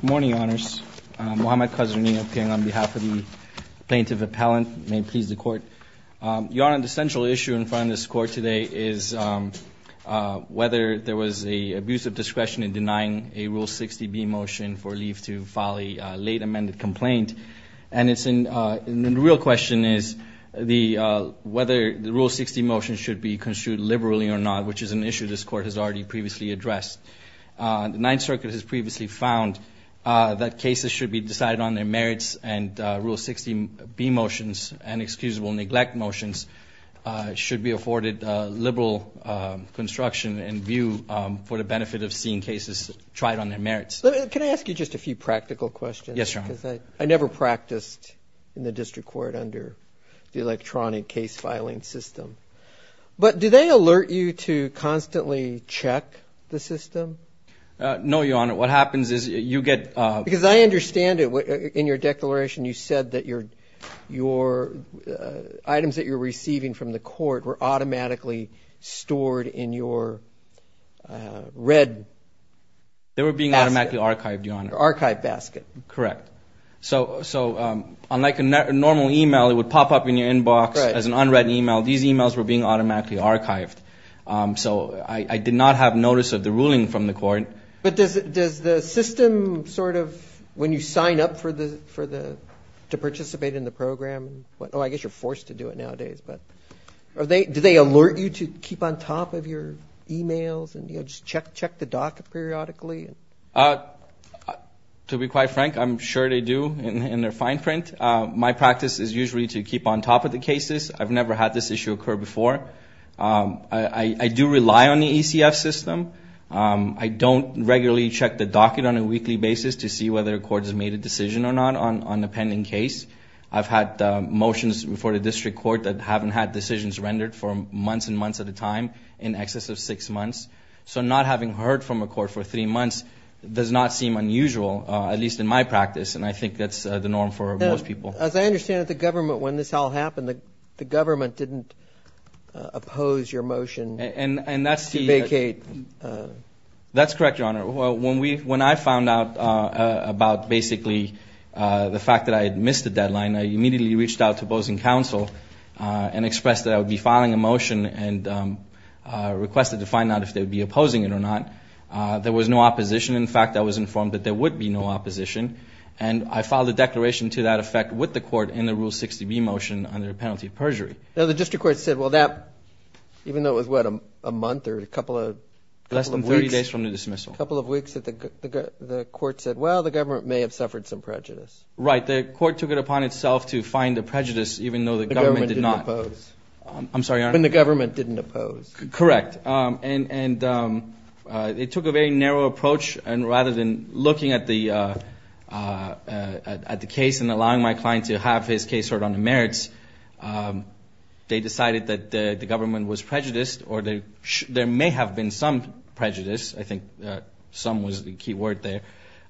Good morning, Your Honors. Muhammad Qazirni of King on behalf of the Plaintiff Appellant. May it please the Court. Your Honor, the central issue in front of this Court today is whether there was an abuse of discretion in denying a Rule 60b motion for leave to file a late amended complaint. And the real question is whether the Rule 60 motion should be construed liberally or not, which is an issue this Court has already previously addressed. The Ninth Circuit has previously found that cases should be decided on their merits and Rule 60b motions and excusable neglect motions should be afforded liberal construction and view for the benefit of seeing cases tried on their merits. Can I ask you just a few practical questions? Yes, Your Honor. I never practiced in the district court under the electronic case filing system. But do they alert you to constantly check the system? No, Your Honor. What happens is you get – Because I understand it. In your declaration, you said that your items that you're receiving from the court were automatically stored in your red basket. They were being automatically archived, Your Honor. Archived basket. Correct. So unlike a normal e-mail, it would pop up in your inbox as an unread e-mail. These e-mails were being automatically archived. So I did not have notice of the ruling from the court. But does the system sort of, when you sign up for the – to participate in the program – oh, I guess you're forced to do it nowadays. But do they alert you to keep on top of your e-mails and, you know, just check the dock periodically? To be quite frank, I'm sure they do in their fine print. My practice is usually to keep on top of the cases. I've never had this issue occur before. I do rely on the ECF system. I don't regularly check the docket on a weekly basis to see whether a court has made a decision or not on a pending case. I've had motions before the district court that haven't had decisions rendered for months and months at a time in excess of six months. So not having heard from a court for three months does not seem unusual, at least in my practice, and I think that's the norm for most people. As I understand it, the government, when this all happened, the government didn't oppose your motion to vacate. That's correct, Your Honor. When I found out about basically the fact that I had missed the deadline, I immediately reached out to Bozeman Council and expressed that I would be filing a motion and requested to find out if they would be opposing it or not. There was no opposition. In fact, I was informed that there would be no opposition. And I filed a declaration to that effect with the court in the Rule 60B motion under the penalty of perjury. Now, the district court said, well, that, even though it was, what, a month or a couple of weeks? Less than 30 days from the dismissal. A couple of weeks that the court said, well, the government may have suffered some prejudice. Right. The court took it upon itself to find the prejudice, even though the government did not. The government didn't oppose. I'm sorry, Your Honor? When the government didn't oppose. Correct. And it took a very narrow approach. And rather than looking at the case and allowing my client to have his case heard on the merits, they decided that the government was prejudiced or there may have been some prejudice. I think some was the key word there.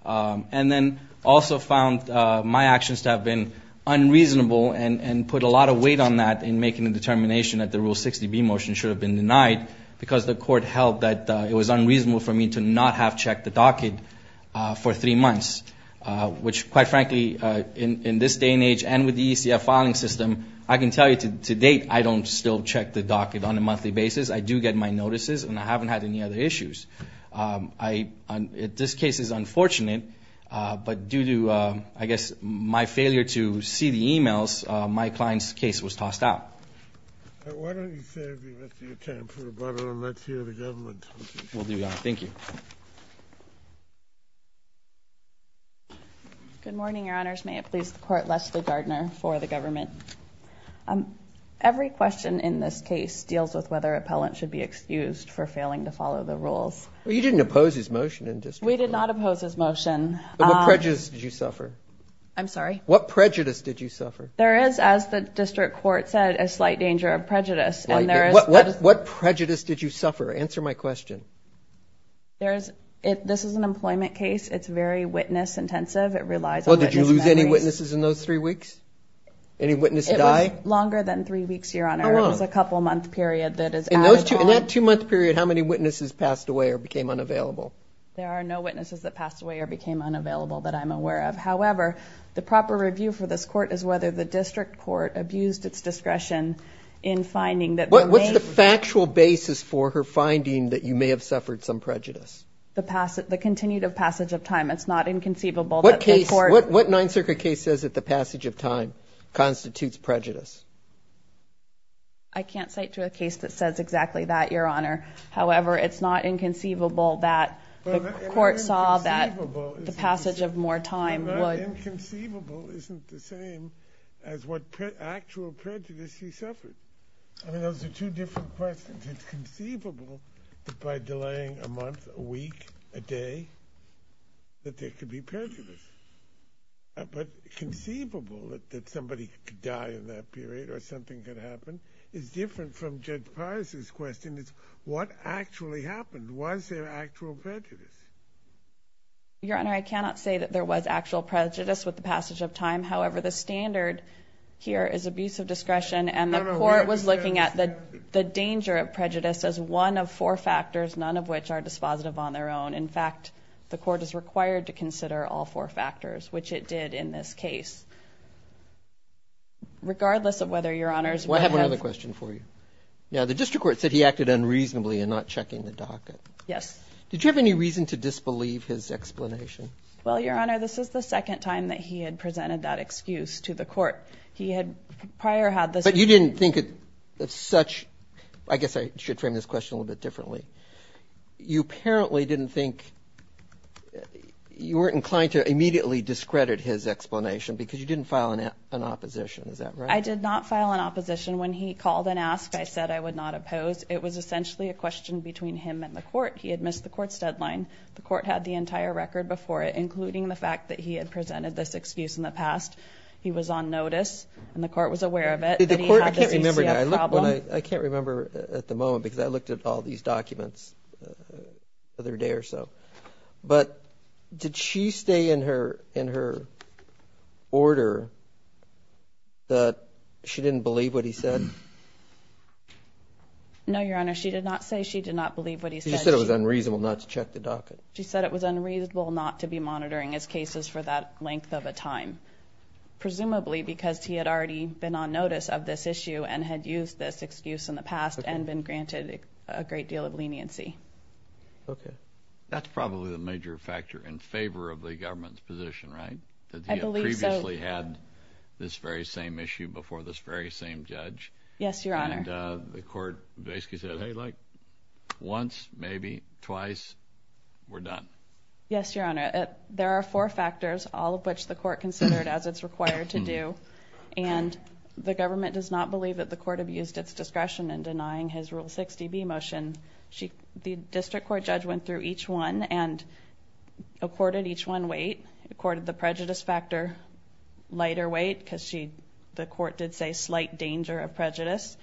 And then also found my actions to have been unreasonable and put a lot of weight on that in making the determination that the Rule 60B motion should have been denied because the court held that it was unreasonable for me to not have checked the docket for three months, which, quite frankly, in this day and age and with the ECF filing system, I can tell you to date I don't still check the docket on a monthly basis. I do get my notices, and I haven't had any other issues. This case is unfortunate, but due to, I guess, my failure to see the e-mails, my client's case was tossed out. All right. Why don't you save me the time for the butter and let's hear the government. Will do, Your Honor. Thank you. Good morning, Your Honors. May it please the Court, Leslie Gardner for the government. Every question in this case deals with whether an appellant should be excused for failing to follow the rules. Well, you didn't oppose his motion in district court. We did not oppose his motion. What prejudice did you suffer? I'm sorry? What prejudice did you suffer? There is, as the district court said, a slight danger of prejudice. What prejudice did you suffer? Answer my question. This is an employment case. It's very witness-intensive. It relies on witness memories. Did you have any witnesses in those three weeks? Any witnesses die? It was longer than three weeks, Your Honor. How long? It was a couple-month period that is added on. In that two-month period, how many witnesses passed away or became unavailable? There are no witnesses that passed away or became unavailable that I'm aware of. However, the proper review for this court is whether the district court abused its discretion in finding that there may be. What's the factual basis for her finding that you may have suffered some prejudice? The continued passage of time. It's not inconceivable that the court. What Ninth Circuit case says that the passage of time constitutes prejudice? I can't cite to a case that says exactly that, Your Honor. However, it's not inconceivable that the court saw that the passage of more time would. Inconceivable isn't the same as what actual prejudice she suffered. I mean, those are two different questions. It's inconceivable that by delaying a month, a week, a day, that there could be prejudice. But conceivable that somebody could die in that period or something could happen is different from Judge Parse's question. It's what actually happened. Was there actual prejudice? Your Honor, I cannot say that there was actual prejudice with the passage of time. However, the standard here is abuse of discretion. And the court was looking at the danger of prejudice as one of four factors, none of which are dispositive on their own. In fact, the court is required to consider all four factors, which it did in this case. Regardless of whether, Your Honors. I have one other question for you. Now, the district court said he acted unreasonably in not checking the docket. Yes. Did you have any reason to disbelieve his explanation? Well, Your Honor, this is the second time that he had presented that excuse to the court. But you didn't think of such – I guess I should frame this question a little bit differently. You apparently didn't think – you weren't inclined to immediately discredit his explanation because you didn't file an opposition. Is that right? I did not file an opposition. When he called and asked, I said I would not oppose. It was essentially a question between him and the court. He had missed the court's deadline. The court had the entire record before it, including the fact that he had presented this excuse in the past. He was on notice and the court was aware of it. The court – I can't remember now. I can't remember at the moment because I looked at all these documents the other day or so. But did she stay in her order that she didn't believe what he said? No, Your Honor. She did not say she did not believe what he said. She said it was unreasonable not to check the docket. She said it was unreasonable not to be monitoring his cases for that length of a time, presumably because he had already been on notice of this issue and had used this excuse in the past and been granted a great deal of leniency. Okay. That's probably the major factor in favor of the government's position, right? I believe so. That he had previously had this very same issue before this very same judge. Yes, Your Honor. And the court basically said, hey, like once, maybe twice, we're done. Yes, Your Honor. There are four factors, all of which the court considered as it's required to do, and the government does not believe that the court abused its discretion in denying his Rule 60B motion. The district court judge went through each one and accorded each one weight, accorded the prejudice factor lighter weight because the court did say slight danger of prejudice.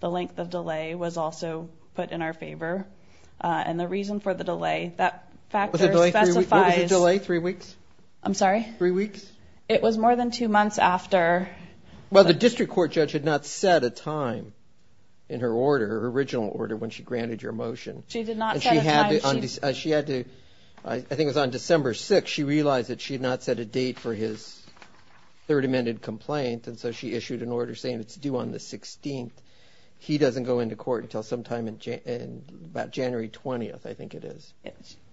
The length of delay was also put in our favor. And the reason for the delay, that factor specifies. What was the delay? Three weeks? I'm sorry? Three weeks? It was more than two months after. Well, the district court judge had not set a time in her order, her original order when she granted your motion. She did not set a time. She had to, I think it was on December 6th, but she realized that she had not set a date for his third amended complaint, and so she issued an order saying it's due on the 16th. He doesn't go into court until sometime in about January 20th, I think it is.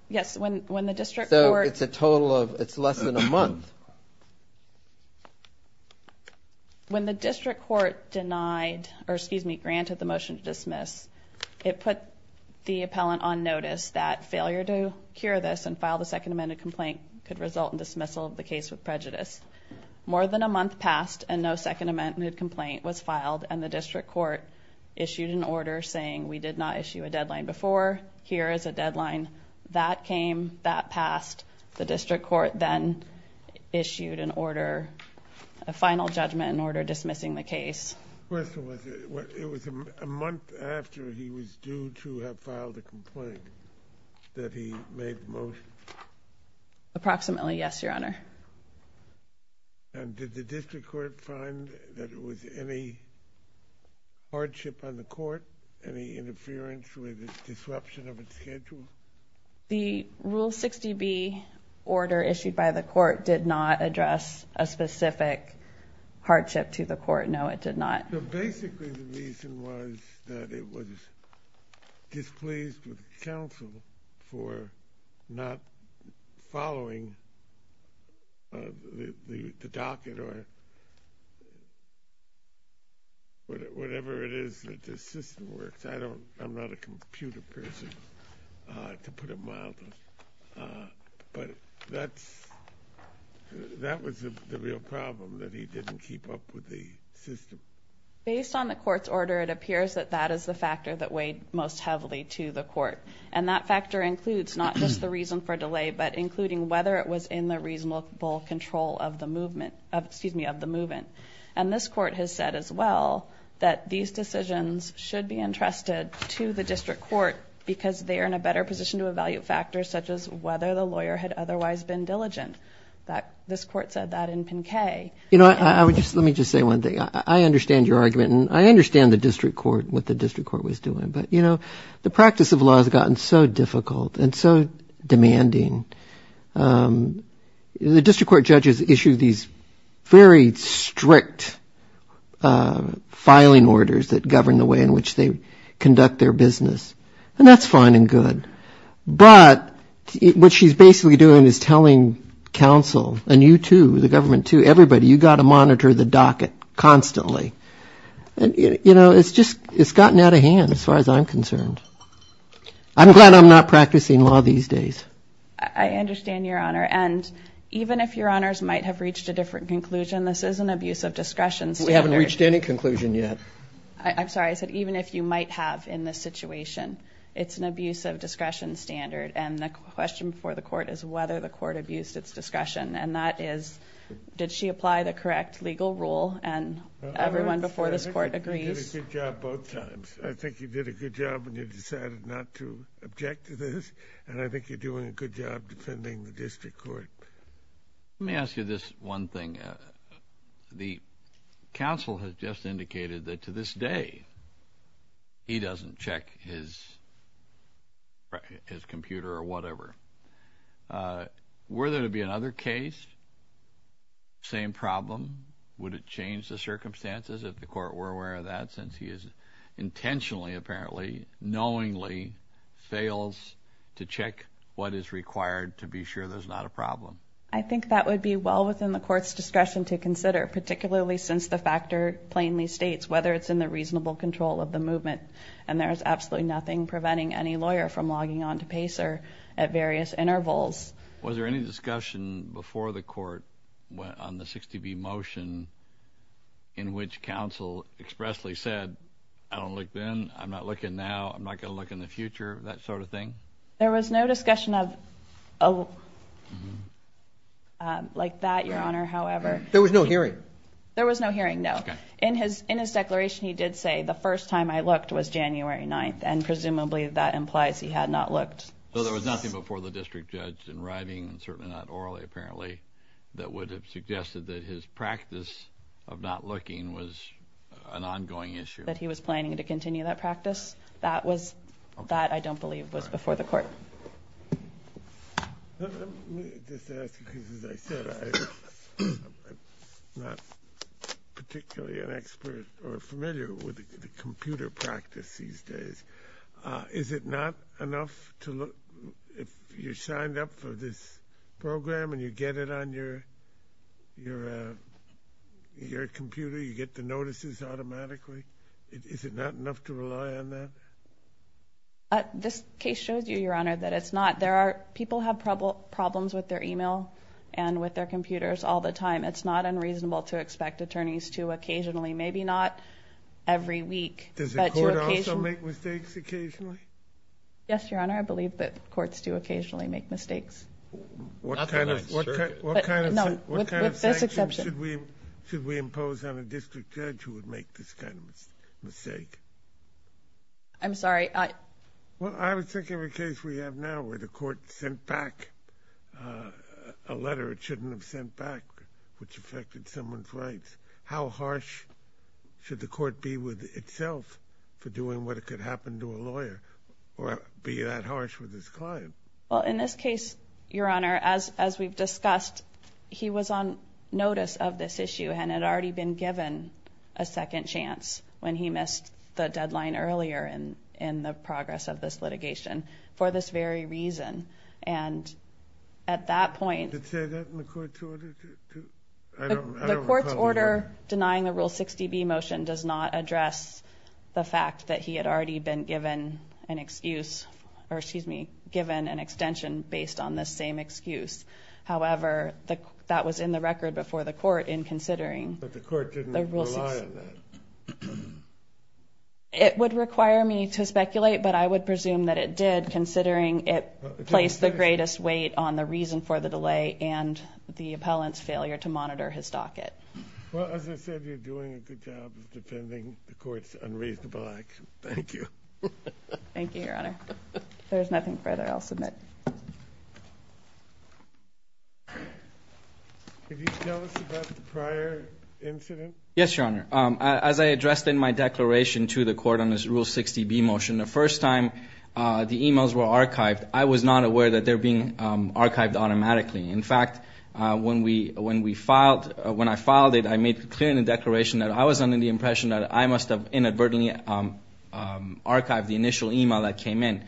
Yes, when the district court. So it's a total of, it's less than a month. When the district court denied, or excuse me, granted the motion to dismiss, it put the appellant on notice that failure to cure this and file the second amended complaint could result in dismissal of the case with prejudice. More than a month passed, and no second amended complaint was filed, and the district court issued an order saying we did not issue a deadline before. Here is a deadline. That came. That passed. The district court then issued an order, a final judgment in order, dismissing the case. The question was, it was a month after he was due to have filed a complaint that he made the motion. Approximately, yes, Your Honor. And did the district court find that it was any hardship on the court, any interference with the disruption of its schedule? The Rule 60B order issued by the court did not address a specific hardship to the court. No, it did not. Basically, the reason was that it was displeased with counsel for not following the docket or whatever it is that the system works. I'm not a computer person, to put it mildly. But that was the real problem, that he didn't keep up with the system. Based on the court's order, it appears that that is the factor that weighed most heavily to the court, and that factor includes not just the reason for delay, but including whether it was in the reasonable control of the movement. And this court has said as well that these decisions should be entrusted to the district court because they are in a better position to evaluate factors such as whether the lawyer had otherwise been diligent. This court said that in Pinkei. You know, let me just say one thing. I understand your argument, and I understand the district court, what the district court was doing. But, you know, the practice of law has gotten so difficult and so demanding. The district court judges issue these very strict filing orders that govern the way in which they conduct their business, and that's fine and good. But what she's basically doing is telling counsel, and you too, the government too, everybody, you've got to monitor the docket constantly. You know, it's just gotten out of hand as far as I'm concerned. I'm glad I'm not practicing law these days. I understand, Your Honor, and even if Your Honors might have reached a different conclusion, this is an abuse of discretion. We haven't reached any conclusion yet. I'm sorry. I said even if you might have in this situation, it's an abuse of discretion standard, and the question before the court is whether the court abused its discussion, and that is did she apply the correct legal rule, and everyone before this court agrees. I think you did a good job both times. I think you did a good job when you decided not to object to this, and I think you're doing a good job defending the district court. Let me ask you this one thing. The counsel has just indicated that to this day he doesn't check his computer or whatever. Were there to be another case, same problem, would it change the circumstances if the court were aware of that since he is intentionally, apparently, knowingly fails to check what is required to be sure there's not a problem? I think that would be well within the court's discretion to consider, particularly since the factor plainly states whether it's in the reasonable control of the movement, and there is absolutely nothing preventing any lawyer from logging on to PACER at various intervals. Was there any discussion before the court on the 60B motion in which counsel expressly said, I don't look then, I'm not looking now, I'm not going to look in the future, that sort of thing? There was no discussion like that, Your Honor, however. There was no hearing? There was no hearing, no. Okay. In his declaration he did say, the first time I looked was January 9th, and presumably that implies he had not looked. So there was nothing before the district judge in writing, and certainly not orally apparently, that would have suggested that his practice of not looking was an ongoing issue? That he was planning to continue that practice? That, I don't believe, was before the court. Let me just ask you, because as I said, I'm not particularly an expert or familiar with the computer practice these days. Is it not enough if you're signed up for this program and you get it on your computer, you get the notices automatically? Is it not enough to rely on that? This case shows you, Your Honor, that it's not. People have problems with their e-mail and with their computers all the time. It's not unreasonable to expect attorneys to occasionally, maybe not every week. Does the court also make mistakes occasionally? Yes, Your Honor, I believe that courts do occasionally make mistakes. What kind of sanctions should we impose on a district judge who would make this kind of mistake? I'm sorry. Well, I was thinking of a case we have now where the court sent back a letter it shouldn't have sent back, which affected someone's rights. How harsh should the court be with itself for doing what could happen to a lawyer or be that harsh with his client? Well, in this case, Your Honor, as we've discussed, he was on notice of this issue and had already been given a second chance when he missed the deadline earlier in the progress of this litigation for this very reason. And at that point, the court's order denying the Rule 60B motion does not address the fact that he had already been given an extension based on this same excuse. However, that was in the record before the court in considering the Rule 60B. But the court didn't rely on that. It would require me to speculate, but I would presume that it did considering it placed the greatest weight on the reason for the delay and the appellant's failure to monitor his docket. Well, as I said, you're doing a good job of defending the court's unreasonable action. Thank you. Thank you, Your Honor. If there's nothing further, I'll submit. Could you tell us about the prior incident? Yes, Your Honor. As I addressed in my declaration to the court on this Rule 60B motion, the first time the e-mails were archived, I was not aware that they were being archived automatically. In fact, when I filed it, I made clear in the declaration that I was under the impression that I must have inadvertently archived the initial e-mail that came in.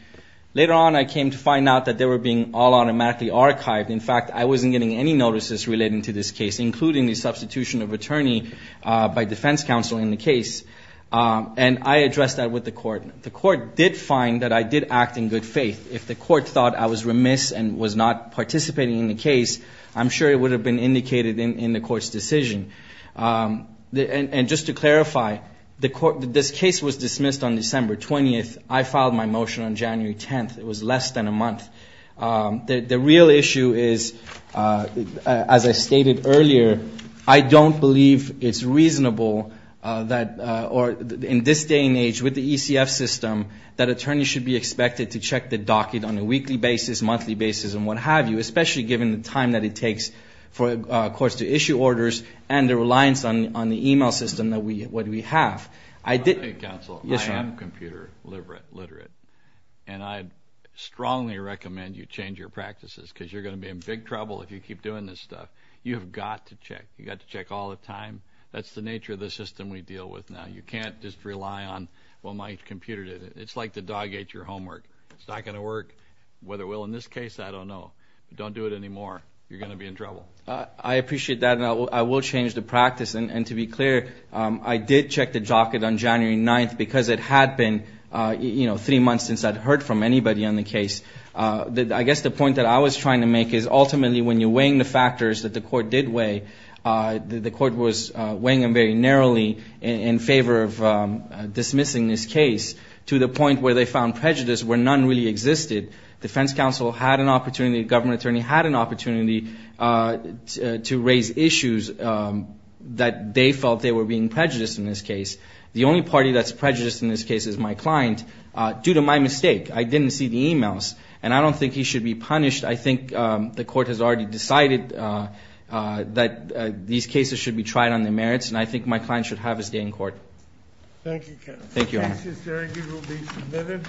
Later on, I came to find out that they were being all automatically archived. In fact, I wasn't getting any notices relating to this case, including the substitution of attorney by defense counsel in the case. And I addressed that with the court. The court did find that I did act in good faith. If the court thought I was remiss and was not participating in the case, I'm sure it would have been indicated in the court's decision. And just to clarify, this case was dismissed on December 20th. I filed my motion on January 10th. It was less than a month. The real issue is, as I stated earlier, I don't believe it's reasonable that in this day and age, with the ECF system, that attorneys should be expected to check the docket on a weekly basis, monthly basis, and what have you, especially given the time that it takes for courts to issue orders and the reliance on the e-mail system that we have. Counsel, I am computer literate, and I strongly recommend you change your practices because you're going to be in big trouble if you keep doing this stuff. You have got to check. You've got to check all the time. That's the nature of the system we deal with now. You can't just rely on, well, my computer did it. It's like the dog ate your homework. It's not going to work. Whether it will in this case, I don't know. Don't do it anymore. You're going to be in trouble. I appreciate that, and I will change the practice. And to be clear, I did check the docket on January 9th because it had been, you know, three months since I'd heard from anybody on the case. I guess the point that I was trying to make is, ultimately, when you're weighing the factors that the court did weigh, the court was weighing them very narrowly in favor of dismissing this case to the point where they found prejudice where none really existed. Defense counsel had an opportunity, the government attorney had an opportunity to raise issues that they felt they were being prejudiced in this case. The only party that's prejudiced in this case is my client due to my mistake. I didn't see the e-mails, and I don't think he should be punished. I think the court has already decided that these cases should be tried on their merits, and I think my client should have his day in court. Thank you, counsel. Thank you, Your Honor. The case is there. It will be submitted.